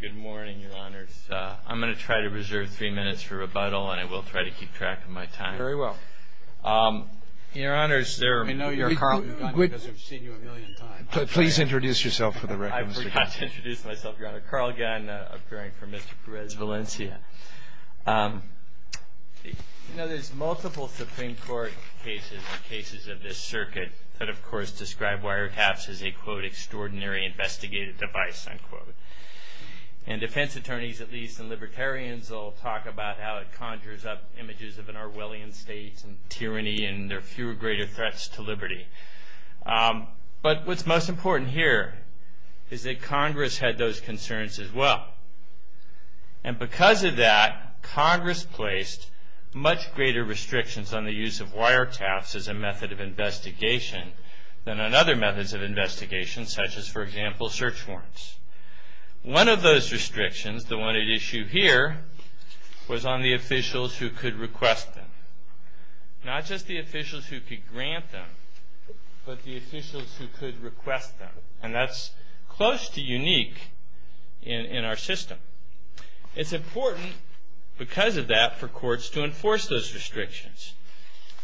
Good morning, your honors. I'm going to try to reserve three minutes for rebuttal and I will try to keep track of my time. Very well. Your honors, there are... I know you're Carl Gunn because I've seen you a million times. Please introduce yourself for the record. I forgot to introduce myself, your honor. Carl Gunn, appearing for Mr. Perez-Valencia. You know, there's multiple Supreme Court cases and cases of this circuit that, of course, describe wiretaps as a, quote, extraordinary investigative device, unquote. And defense attorneys, at least, and libertarians all talk about how it conjures up images of an Orwellian state and tyranny and there are fewer greater threats to liberty. But what's most important here is that Congress had those concerns as well. And because of that, Congress placed much greater restrictions on the use of wiretaps as a method of investigation than on other methods of investigation, such as, for example, search warrants. One of those restrictions, the one at issue here, was on the officials who could request them. Not just the officials who could grant them, but the officials who could request them. And that's close to unique in our system. It's important, because of that, for courts to enforce those restrictions.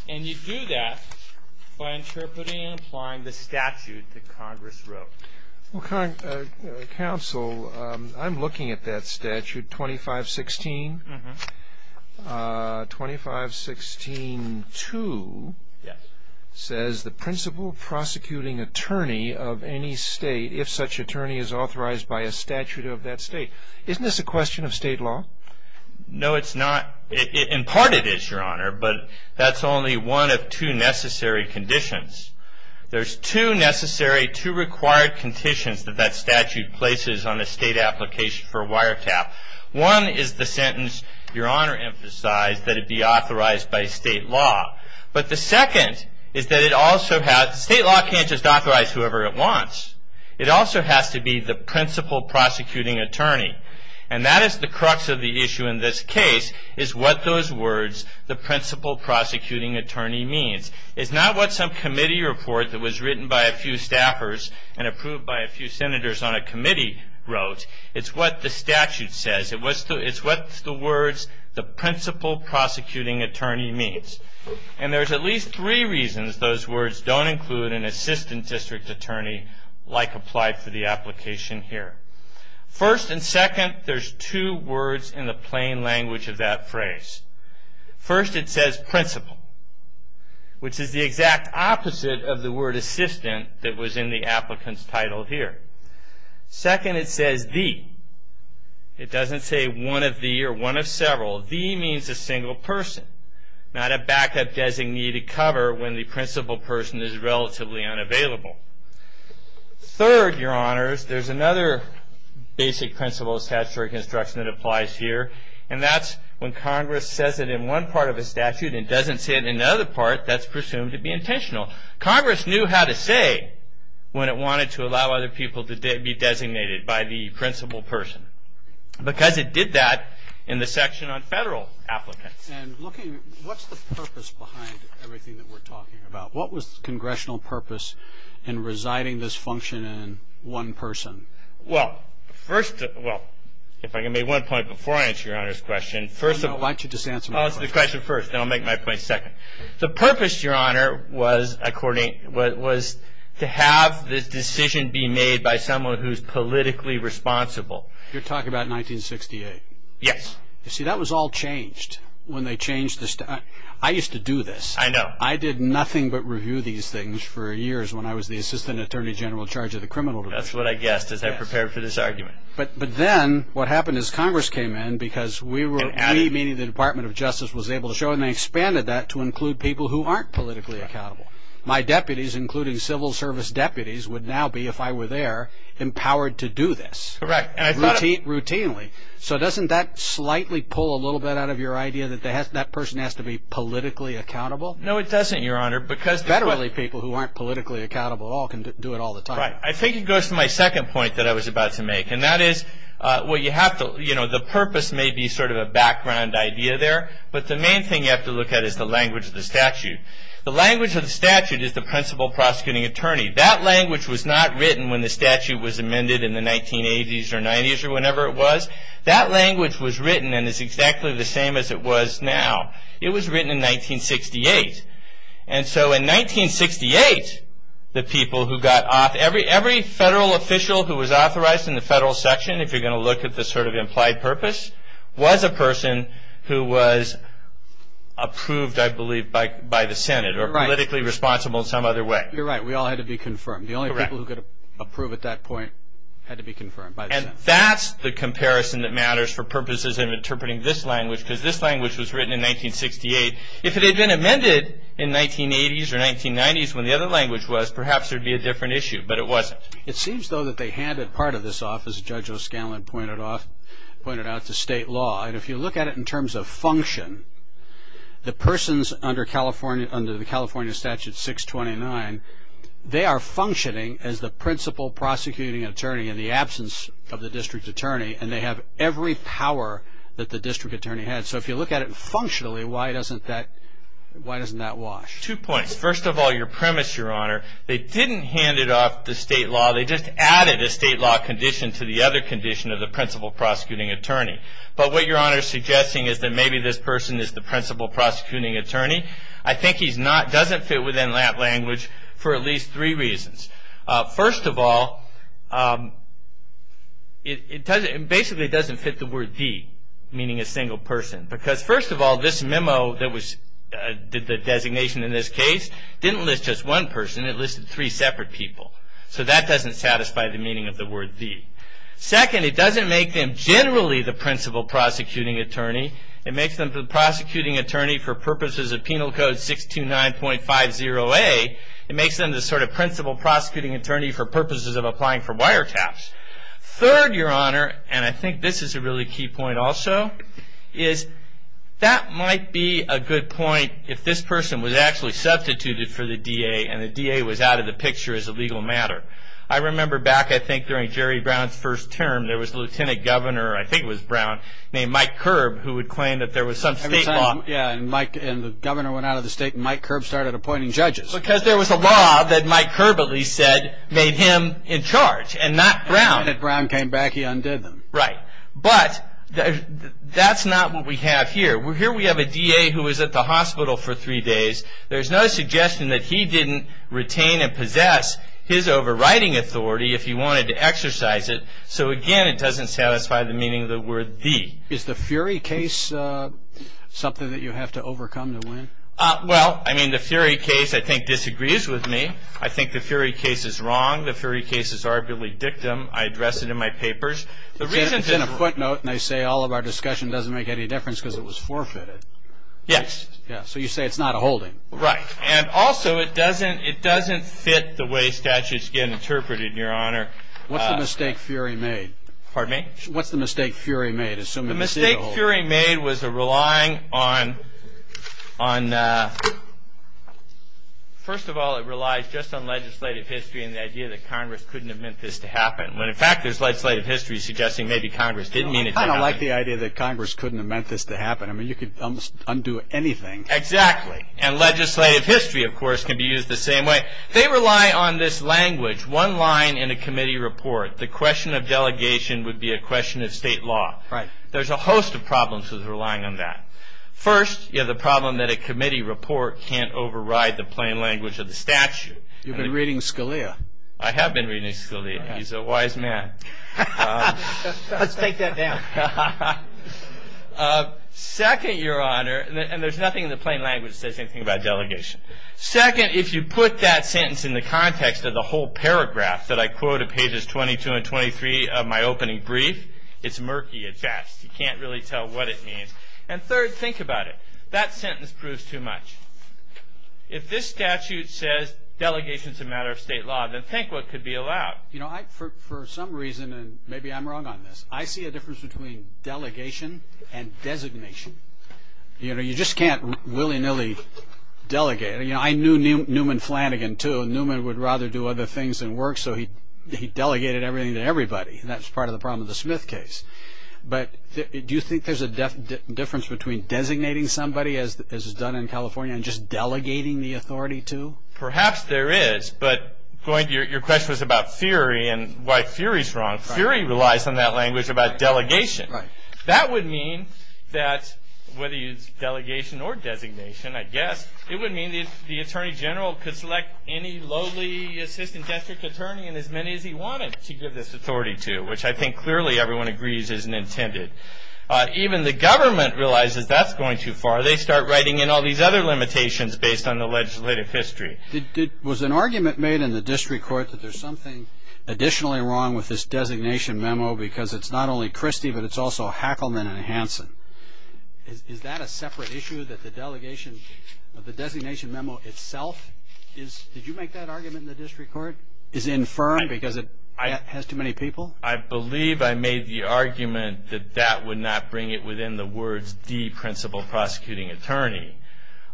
And you do that by interpreting and applying the statute that Congress wrote. Counsel, I'm looking at that statute, 2516. 2516-2 says, the principal prosecuting attorney of any state, if such attorney is authorized by a statute of that state. Isn't this a question of state law? No, it's not. In part it is, Your Honor, but that's only one of two necessary conditions. There's two necessary, two required conditions that that statute places on a state application for a wiretap. One is the sentence, Your Honor emphasized, that it be authorized by state law. But the second is that it also has, state law can't just authorize whoever it wants. It also has to be the principal prosecuting attorney. And that is the crux of the issue in this case, is what those words, the principal prosecuting attorney, means. It's not what some committee report that was written by a few staffers and approved by a few senators on a committee wrote. It's what the statute says. It's what the words, the principal prosecuting attorney, means. And there's at least three reasons those words don't include an assistant district attorney, like applied for the application here. First and second, there's two words in the plain language of that phrase. First, it says principal, which is the exact opposite of the word assistant that was in the applicant's title here. Second, it says the. It doesn't say one of the or one of several. The means a single person. Not a backup designated cover when the principal person is relatively unavailable. Third, Your Honors, there's another basic principle of statutory construction that applies here. And that's when Congress says it in one part of a statute and doesn't say it in another part, that's presumed to be intentional. Congress knew how to say when it wanted to allow other people to be designated by the principal person. Because it did that in the section on federal applicants. And looking, what's the purpose behind everything that we're talking about? What was the congressional purpose in residing this function in one person? Well, first, well, if I can make one point before I answer Your Honor's question. First of all, why don't you just answer my question. Answer the question first, then I'll make my point second. The purpose, Your Honor, was to have this decision be made by someone who's politically responsible. You're talking about 1968. Yes. You see, that was all changed when they changed the statute. I used to do this. I know. I did nothing but review these things for years when I was the assistant attorney general in charge of the criminal division. That's what I guessed as I prepared for this argument. But then what happened is Congress came in because we, meaning the Department of Justice, was able to show it. And they expanded that to include people who aren't politically accountable. My deputies, including civil service deputies, would now be, if I were there, empowered to do this. Correct. Routinely. So doesn't that slightly pull a little bit out of your idea that that person has to be politically accountable? No, it doesn't, Your Honor. Federally people who aren't politically accountable at all can do it all the time. Right. I think it goes to my second point that I was about to make. And that is, well, you have to, you know, the purpose may be sort of a background idea there. But the main thing you have to look at is the language of the statute. The language of the statute is the principal prosecuting attorney. That language was not written when the statute was amended in the 1980s or 90s or whenever it was. That language was written and is exactly the same as it was now. It was written in 1968. And so in 1968, the people who got off, every federal official who was authorized in the federal section, if you're going to look at the sort of implied purpose, was a person who was approved, I believe, by the Senate. Right. Or politically responsible in some other way. You're right. We all had to be confirmed. Correct. The only people who could approve at that point had to be confirmed by the Senate. And that's the comparison that matters for purposes of interpreting this language, because this language was written in 1968. If it had been amended in 1980s or 1990s when the other language was, perhaps there would be a different issue. But it wasn't. It seems, though, that they handed part of this off, as Judge O'Scanlan pointed out, to state law. And if you look at it in terms of function, the persons under the California Statute 629, they are functioning as the principal prosecuting attorney in the absence of the district attorney. And they have every power that the district attorney had. So if you look at it functionally, why doesn't that wash? Two points. First of all, your premise, Your Honor, they didn't hand it off to state law. They just added a state law condition to the other condition of the principal prosecuting attorney. But what Your Honor is suggesting is that maybe this person is the principal prosecuting attorney. I think he doesn't fit within that language for at least three reasons. First of all, it basically doesn't fit the word the, meaning a single person. Because first of all, this memo that was the designation in this case didn't list just one person. It listed three separate people. So that doesn't satisfy the meaning of the word the. Second, it doesn't make them generally the principal prosecuting attorney. It makes them the prosecuting attorney for purposes of Penal Code 629.50A. It makes them the sort of principal prosecuting attorney for purposes of applying for wiretaps. Third, Your Honor, and I think this is a really key point also, is that might be a good point if this person was actually substituted for the DA and the DA was out of the picture as a legal matter. I remember back I think during Jerry Brown's first term, there was a lieutenant governor, I think it was Brown, named Mike Curb who would claim that there was some state law. Yeah, and the governor went out of the state and Mike Curb started appointing judges. Because there was a law that Mike Curb at least said made him in charge and not Brown. And when Brown came back, he undid them. Right. But that's not what we have here. Here we have a DA who was at the hospital for three days. There's no suggestion that he didn't retain and possess his overriding authority if he wanted to exercise it. So again, it doesn't satisfy the meaning of the word the. Is the Fury case something that you have to overcome to win? Well, I mean, the Fury case I think disagrees with me. I think the Fury case is wrong. The Fury case is arguably dictum. I address it in my papers. It's in a footnote and they say all of our discussion doesn't make any difference because it was forfeited. Yes. So you say it's not a holding. Right. And also it doesn't fit the way statutes get interpreted, Your Honor. What's the mistake Fury made? Pardon me? What's the mistake Fury made? The mistake Fury made was relying on, first of all, it relies just on legislative history and the idea that Congress couldn't have meant this to happen. When, in fact, there's legislative history suggesting maybe Congress didn't mean it to happen. I kind of like the idea that Congress couldn't have meant this to happen. I mean, you could undo anything. Exactly. And legislative history, of course, can be used the same way. They rely on this language, one line in a committee report. The question of delegation would be a question of state law. Right. There's a host of problems with relying on that. First, you have the problem that a committee report can't override the plain language of the statute. You've been reading Scalia. I have been reading Scalia. He's a wise man. Let's take that down. Second, Your Honor, and there's nothing in the plain language that says anything about delegation. Second, if you put that sentence in the context of the whole paragraph that I quoted, pages 22 and 23 of my opening brief, it's murky at best. You can't really tell what it means. And third, think about it. That sentence proves too much. If this statute says delegation is a matter of state law, then think what could be allowed. You know, for some reason, and maybe I'm wrong on this, I see a difference between delegation and designation. You know, you just can't willy-nilly delegate. You know, I knew Newman Flanagan, too. Newman would rather do other things than work, so he delegated everything to everybody, and that's part of the problem with the Smith case. But do you think there's a difference between designating somebody, as is done in California, and just delegating the authority to? Perhaps there is, but your question was about fury and why fury is wrong. Fury relies on that language about delegation. Right. That would mean that, whether you use delegation or designation, I guess, it would mean the attorney general could select any lowly assistant district attorney and as many as he wanted to give this authority to, which I think clearly everyone agrees isn't intended. Even the government realizes that's going too far. They start writing in all these other limitations based on the legislative history. Was an argument made in the district court that there's something additionally wrong with this designation memo because it's not only Christie but it's also Hackleman and Hanson? Is that a separate issue that the delegation of the designation memo itself is? Did you make that argument in the district court? Is it infirmed because it has too many people? I believe I made the argument that that would not bring it within the words de-principal prosecuting attorney.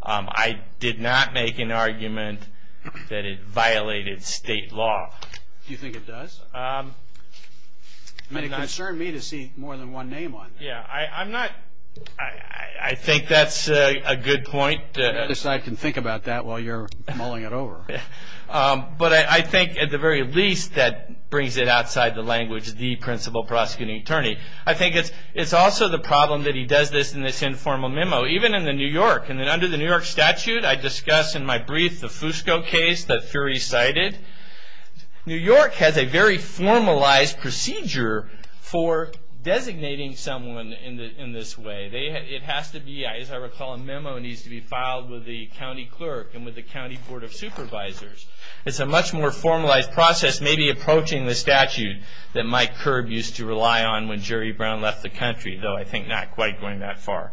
I did not make an argument that it violated state law. Do you think it does? It concerned me to see more than one name on there. I think that's a good point. I guess I can think about that while you're mulling it over. But I think, at the very least, that brings it outside the language de-principal prosecuting attorney. I think it's also the problem that he does this in this informal memo, even in the New York. Under the New York statute, I discuss in my brief the Fusco case that Fury cited. New York has a very formalized procedure for designating someone in this way. It has to be, as I recall, a memo needs to be filed with the county clerk and with the county board of supervisors. It's a much more formalized process, maybe approaching the statute, that Mike Kerb used to rely on when Jerry Brown left the country, though I think not quite going that far.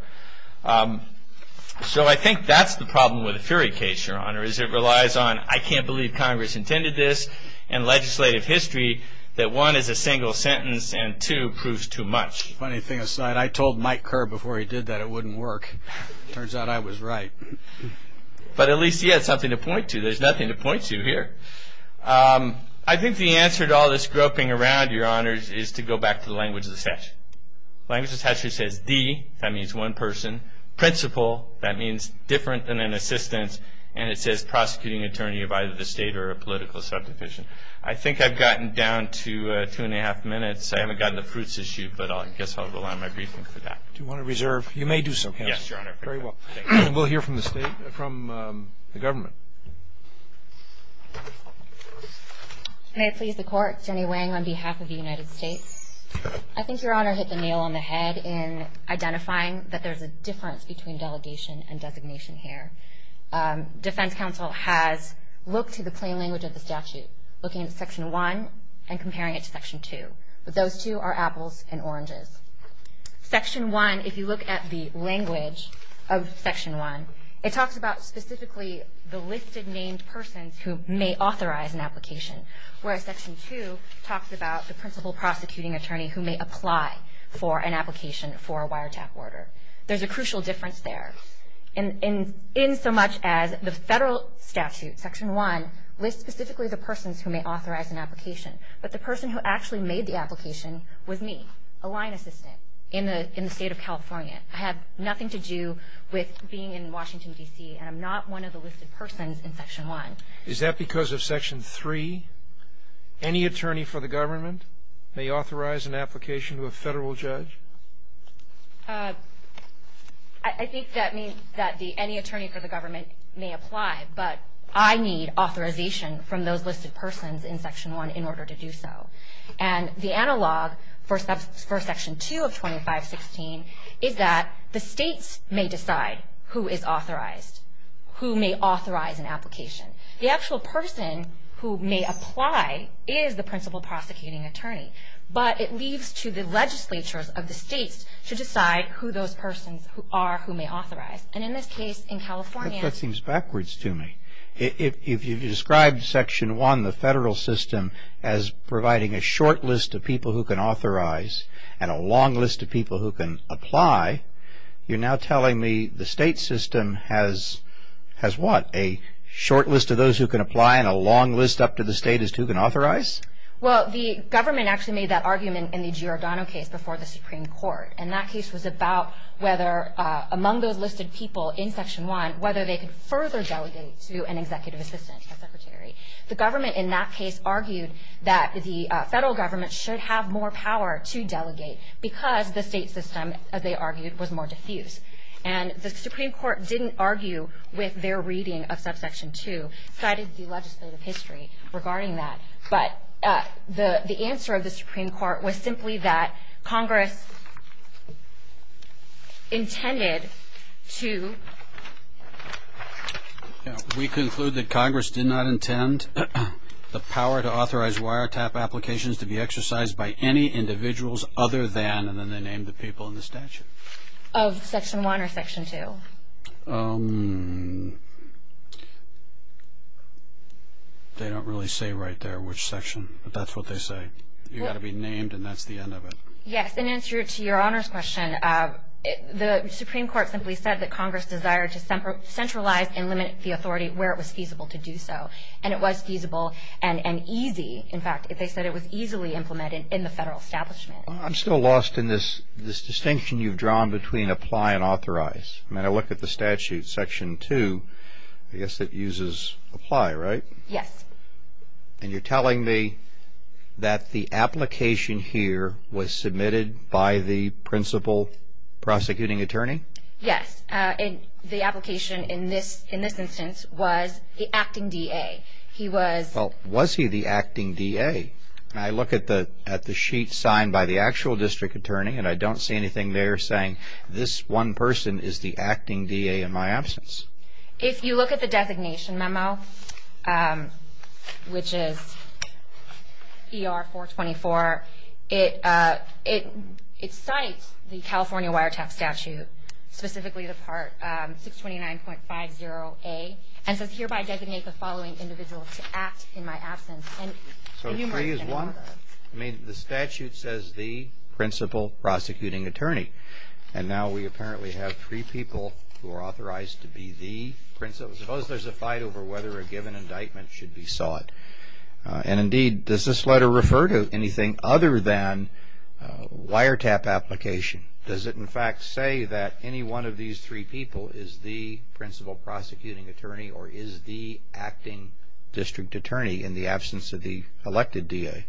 So I think that's the problem with the Fury case, Your Honor, is it relies on I can't believe Congress intended this and legislative history, that one is a single sentence and two proves too much. Funny thing aside, I told Mike Kerb before he did that it wouldn't work. Turns out I was right. But at least he had something to point to. There's nothing to point to here. I think the answer to all this groping around, Your Honor, is to go back to the language of the statute. Language of the statute says the, that means one person, principal, that means different than an assistant, and it says prosecuting attorney of either the state or a political subdivision. I think I've gotten down to two and a half minutes. I haven't gotten to the fruits issue, but I guess I'll rely on my briefing for that. Do you want to reserve? You may do so, Counsel. Yes, Your Honor. Very well. We'll hear from the state, from the government. May it please the Court. Jenny Wang on behalf of the United States. I think Your Honor hit the nail on the head in identifying that there's a difference between delegation and designation here. Defense counsel has looked to the plain language of the statute, looking at Section 1 and comparing it to Section 2. But those two are apples and oranges. Section 1, if you look at the language of Section 1, it talks about specifically the listed named persons who may authorize an application, whereas Section 2 talks about the principal prosecuting attorney who may apply for an application for a wiretap order. There's a crucial difference there. In so much as the federal statute, Section 1, lists specifically the persons who may authorize an application, but the person who actually made the application was me, a line assistant in the state of California. I have nothing to do with being in Washington, D.C., and I'm not one of the listed persons in Section 1. Is that because of Section 3? Any attorney for the government may authorize an application to a federal judge? I think that means that any attorney for the government may apply, but I need authorization from those listed persons in Section 1 in order to do so. And the analog for Section 2 of 2516 is that the states may decide who is authorized, who may authorize an application. The actual person who may apply is the principal prosecuting attorney, but it leaves to the legislatures of the states to decide who those persons are who may authorize. And in this case, in California- That seems backwards to me. If you've described Section 1, the federal system, as providing a short list of people who can authorize and a long list of people who can apply, you're now telling me the state system has what? A short list of those who can apply and a long list up to the state as to who can authorize? Well, the government actually made that argument in the Giordano case before the Supreme Court. And that case was about whether among those listed people in Section 1, whether they could further delegate to an executive assistant, a secretary. The government in that case argued that the federal government should have more power to delegate because the state system, as they argued, was more diffuse. And the Supreme Court didn't argue with their reading of Subsection 2, cited the legislative history regarding that. But the answer of the Supreme Court was simply that Congress intended to- We conclude that Congress did not intend the power to authorize wiretap applications to be exercised by any individuals other than, and then they named the people in the statute. Of Section 1 or Section 2? They don't really say right there which section, but that's what they say. You've got to be named and that's the end of it. Yes, in answer to your Honor's question, the Supreme Court simply said that Congress desired to centralize and limit the authority where it was feasible to do so. And it was feasible and easy, in fact, if they said it was easily implemented in the federal establishment. I'm still lost in this distinction you've drawn between apply and authorize. When I look at the statute, Section 2, I guess it uses apply, right? Yes. And you're telling me that the application here was submitted by the principal prosecuting attorney? Yes. And the application in this instance was the acting DA. Well, was he the acting DA? I look at the sheet signed by the actual district attorney and I don't see anything there saying this one person is the acting DA in my absence. If you look at the designation memo, which is ER 424, it cites the California wiretap statute, specifically the Part 629.50a, and says hereby designate the following individual to act in my absence. So three is one? I mean, the statute says the principal prosecuting attorney. And now we apparently have three people who are authorized to be the principal. Suppose there's a fight over whether a given indictment should be sought. And indeed, does this letter refer to anything other than wiretap application? Does it, in fact, say that any one of these three people is the principal prosecuting attorney or is the acting district attorney in the absence of the elected DA?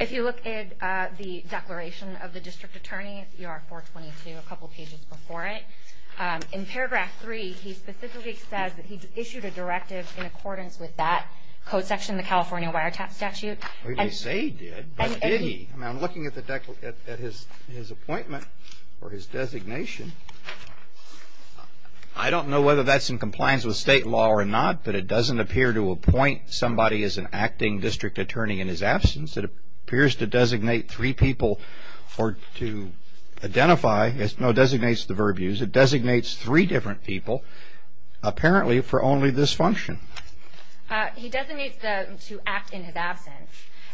If you look at the declaration of the district attorney, ER 422, a couple pages before it, in paragraph 3, he specifically says that he issued a directive in accordance with that code section, the California wiretap statute. He didn't say he did, but did he? I mean, I'm looking at his appointment or his designation. I don't know whether that's in compliance with state law or not, but it doesn't appear to appoint somebody as an acting district attorney in his absence. It appears to designate three people or to identify. No, it designates the verb use. It designates three different people, apparently for only this function. He designates them to act in his absence,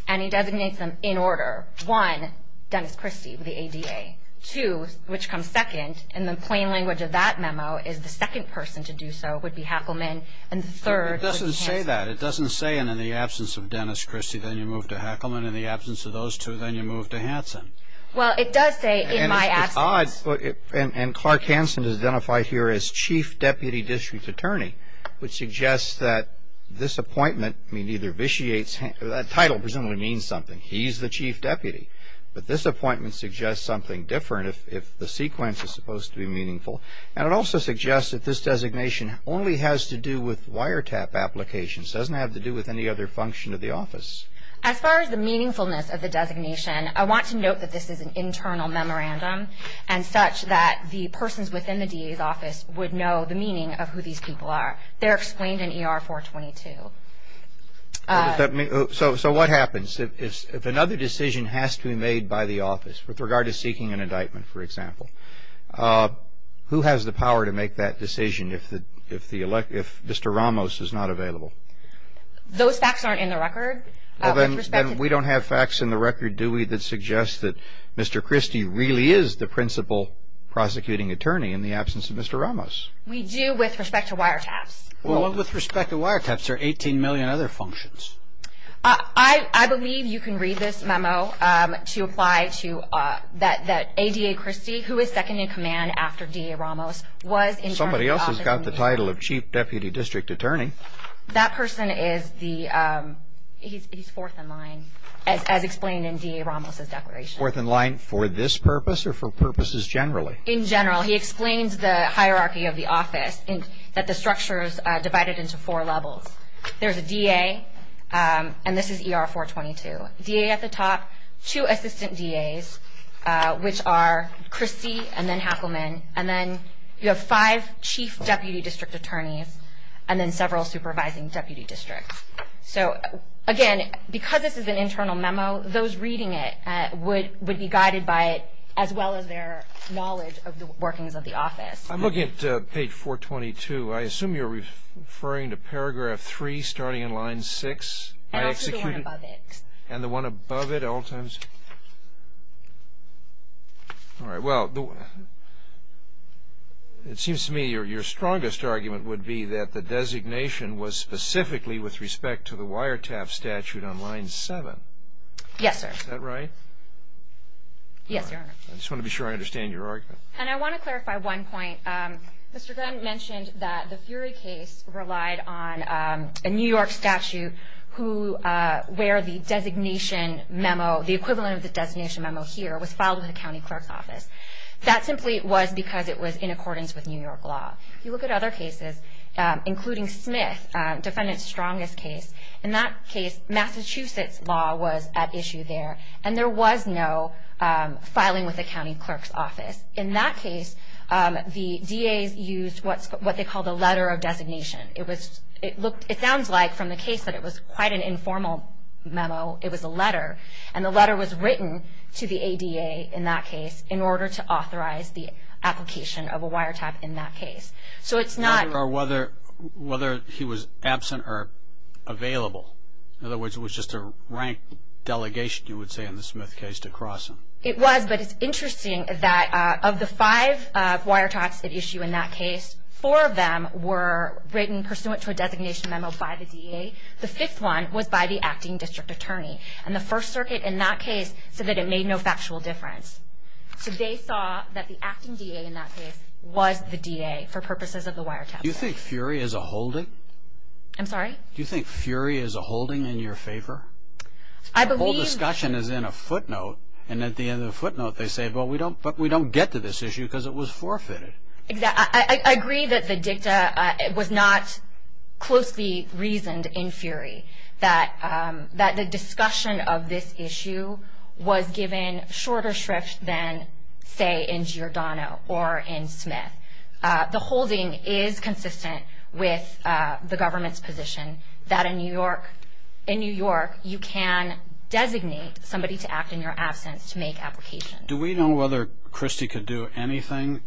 and he designates them in order. One, Dennis Christie, the ADA. Two, which comes second, in the plain language of that memo, is the second person to do so would be Hackleman, and the third is Hanson. It doesn't say that. It doesn't say in the absence of Dennis Christie, then you move to Hackleman. In the absence of those two, then you move to Hanson. Well, it does say in my absence. And Clark Hanson is identified here as chief deputy district attorney, which suggests that this appointment, I mean, either vitiates, that title presumably means something. He's the chief deputy, but this appointment suggests something different if the sequence is supposed to be meaningful. And it also suggests that this designation only has to do with wiretap applications. It doesn't have to do with any other function of the office. As far as the meaningfulness of the designation, I want to note that this is an internal memorandum and such that the persons within the DA's office would know the meaning of who these people are. They're explained in ER 422. So what happens if another decision has to be made by the office, with regard to seeking an indictment, for example? Who has the power to make that decision if Mr. Ramos is not available? Those facts aren't in the record. Then we don't have facts in the record, do we, that suggest that Mr. Christie really is the principal prosecuting attorney in the absence of Mr. Ramos? We do with respect to wiretaps. Well, with respect to wiretaps, there are 18 million other functions. I believe you can read this memo to apply to that ADA Christie, who is second in command after DA Ramos, was in charge of the office. Somebody else has got the title of chief deputy district attorney. That person is the, he's fourth in line, as explained in DA Ramos' declaration. Fourth in line for this purpose or for purposes generally? In general. He explains the hierarchy of the office, that the structure is divided into four levels. There's a DA, and this is ER 422. DA at the top, two assistant DAs, which are Christie and then Hackleman, and then you have five chief deputy district attorneys, and then several supervising deputy districts. So, again, because this is an internal memo, those reading it would be guided by it, as well as their knowledge of the workings of the office. I'm looking at page 422. I assume you're referring to paragraph 3, starting in line 6. And also the one above it. And the one above it at all times? All right. Well, it seems to me your strongest argument would be that the designation was specifically with respect to the Wiretaff statute on line 7. Yes, sir. Is that right? Yes, Your Honor. I just want to be sure I understand your argument. And I want to clarify one point. Mr. Grant mentioned that the Fury case relied on a New York statute where the designation memo, the equivalent of the designation memo here, was filed with the county clerk's office. That simply was because it was in accordance with New York law. You look at other cases, including Smith, defendant's strongest case. In that case, Massachusetts law was at issue there, and there was no filing with the county clerk's office. In that case, the DAs used what they called a letter of designation. It sounds like from the case that it was quite an informal memo, it was a letter. And the letter was written to the ADA in that case in order to authorize the application of a Wiretaff in that case. So it's not. Or whether he was absent or available. In other words, it was just a rank delegation, you would say, in the Smith case to cross him. It was, but it's interesting that of the five Wiretaffs at issue in that case, four of them were written pursuant to a designation memo by the DA. The fifth one was by the acting district attorney. And the First Circuit in that case said that it made no factual difference. So they saw that the acting DA in that case was the DA for purposes of the Wiretaff case. Do you think Fury is a holding? I'm sorry? Do you think Fury is a holding in your favor? I believe. The whole discussion is in a footnote, and at the end of the footnote they say, but we don't get to this issue because it was forfeited. I agree that the dicta was not closely reasoned in Fury. That the discussion of this issue was given shorter shrift than, say, in Giordano or in Smith. The holding is consistent with the government's position that in New York you can designate somebody to act in your absence to make applications. Do we know whether Christie could do anything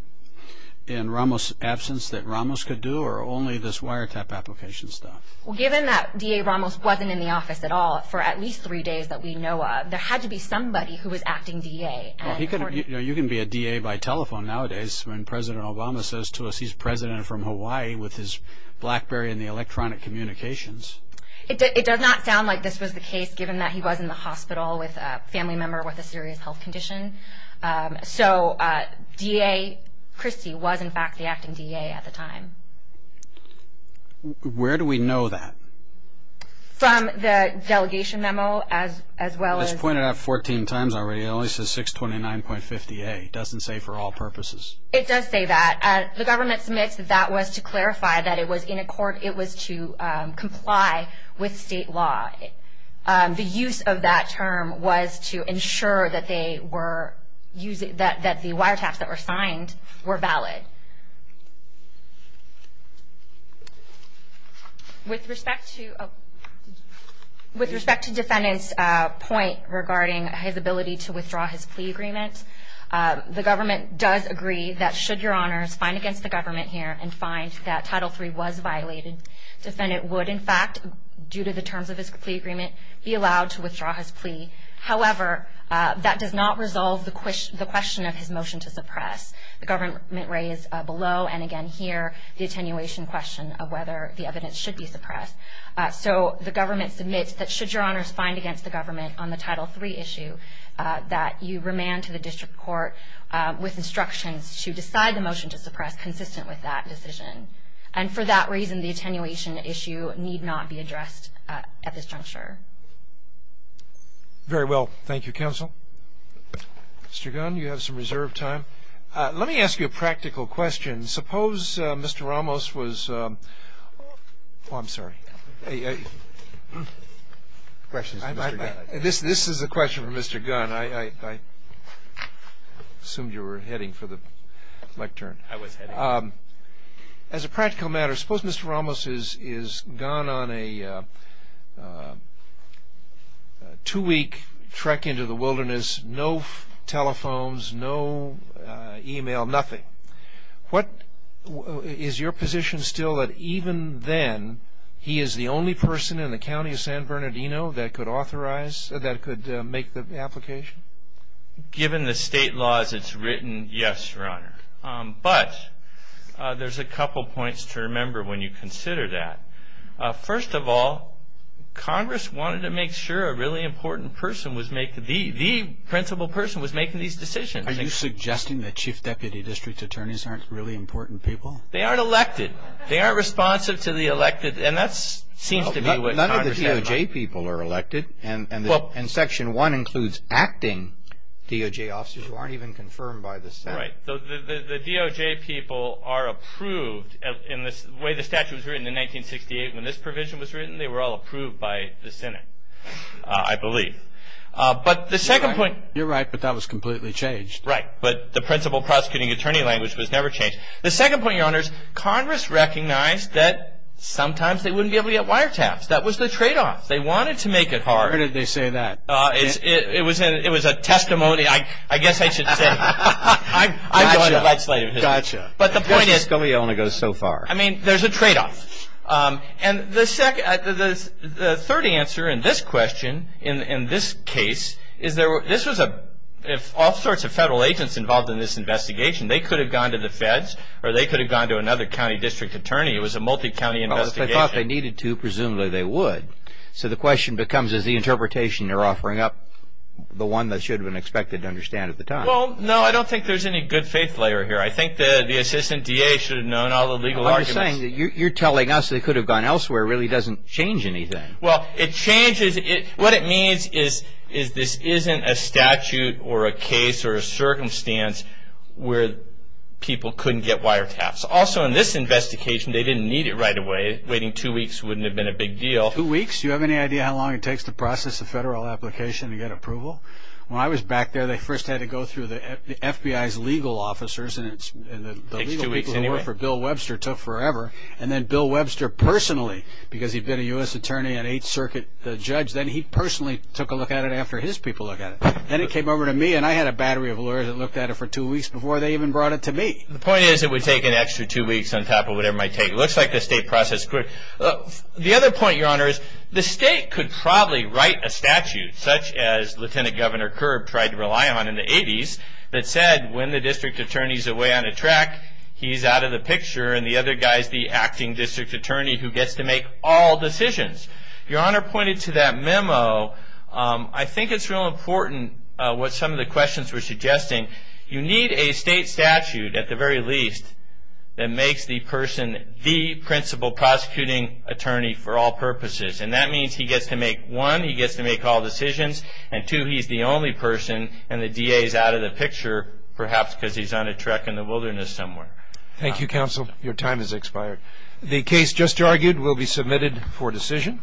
in Ramos' absence that Ramos could do, or only this Wiretaff application stuff? Given that DA Ramos wasn't in the office at all for at least three days that we know of, there had to be somebody who was acting DA. You can be a DA by telephone nowadays when President Obama says to us he's president from Hawaii with his BlackBerry and the electronic communications. It does not sound like this was the case, given that he was in the hospital with a family member with a serious health condition. So DA Christie was, in fact, the acting DA at the time. Where do we know that? From the delegation memo, as well as... It's pointed out 14 times already. It only says 629.50a. It doesn't say for all purposes. It does say that. The government submits that that was to clarify that it was in accord, it was to comply with state law. The use of that term was to ensure that the Wiretaffs that were signed were valid. With respect to defendant's point regarding his ability to withdraw his plea agreement, the government does agree that should your honors find against the government here and find that Title III was violated, the defendant would, in fact, due to the terms of his plea agreement, be allowed to withdraw his plea. However, that does not resolve the question of his motion to suppress. The government raised below and again here the attenuation question of whether the evidence should be suppressed. So the government submits that should your honors find against the government on the Title III issue that you remand to the district court with instructions to decide the motion to suppress consistent with that decision. And for that reason, the attenuation issue need not be addressed at this juncture. Very well. Thank you, Counsel. Mr. Gunn, you have some reserved time. Let me ask you a practical question. Suppose Mr. Ramos was – oh, I'm sorry. This is a question for Mr. Gunn. I assumed you were heading for the lectern. As a practical matter, suppose Mr. Ramos has gone on a two-week trek into the wilderness, no telephones, no e-mail, nothing. Is your position still that even then he is the only person in the county of San Bernardino that could authorize, that could make the application? Given the state laws it's written, yes, Your Honor. But there's a couple points to remember when you consider that. First of all, Congress wanted to make sure a really important person was making – the principal person was making these decisions. Are you suggesting that chief deputy district attorneys aren't really important people? They aren't elected. They aren't responsive to the elected – and that seems to be what Congress said. The DOJ people are elected, and Section 1 includes acting DOJ officers who aren't even confirmed by the Senate. Right. The DOJ people are approved in the way the statute was written in 1968. When this provision was written, they were all approved by the Senate, I believe. But the second point – You're right, but that was completely changed. Right, but the principal prosecuting attorney language was never changed. The second point, Your Honors, Congress recognized that sometimes they wouldn't be able to get wiretaps. That was the tradeoff. They wanted to make it hard. Where did they say that? It was a testimony. I guess I should say that. I'm going to legislate. Gotcha. But the point is – That's the story I want to go so far. I mean, there's a tradeoff. And the third answer in this question, in this case, is there – this was a – if all sorts of federal agents involved in this investigation, they could have gone to the feds or they could have gone to another county district attorney. It was a multi-county investigation. If they thought they needed to, presumably they would. So the question becomes, is the interpretation they're offering up the one that should have been expected to understand at the time? Well, no, I don't think there's any good faith layer here. I think the assistant DA should have known all the legal arguments. I'm just saying that you're telling us they could have gone elsewhere really doesn't change anything. Well, it changes – what it means is this isn't a statute or a case or a circumstance where people couldn't get wiretaps. Also, in this investigation, they didn't need it right away. Waiting two weeks wouldn't have been a big deal. Two weeks? Do you have any idea how long it takes to process a federal application to get approval? When I was back there, they first had to go through the FBI's legal officers, and the legal people who worked for Bill Webster took forever. And then Bill Webster personally, because he'd been a U.S. attorney at Eighth Circuit, the judge, then he personally took a look at it after his people looked at it. Then it came over to me, and I had a battery of lawyers that looked at it for two weeks before they even brought it to me. The point is it would take an extra two weeks on top of whatever it might take. It looks like the state process could – the other point, Your Honor, is the state could probably write a statute, such as Lieutenant Governor Kerb tried to rely on in the 80s that said when the district attorney's away on a track, he's out of the picture and the other guy's the acting district attorney who gets to make all decisions. Your Honor pointed to that memo. I think it's real important what some of the questions were suggesting. You need a state statute, at the very least, that makes the person the principal prosecuting attorney for all purposes. And that means he gets to make, one, he gets to make all decisions, and two, he's the only person and the DA's out of the picture, perhaps because he's on a trek in the wilderness somewhere. Thank you, counsel. Your time has expired. The case just argued will be submitted for decision.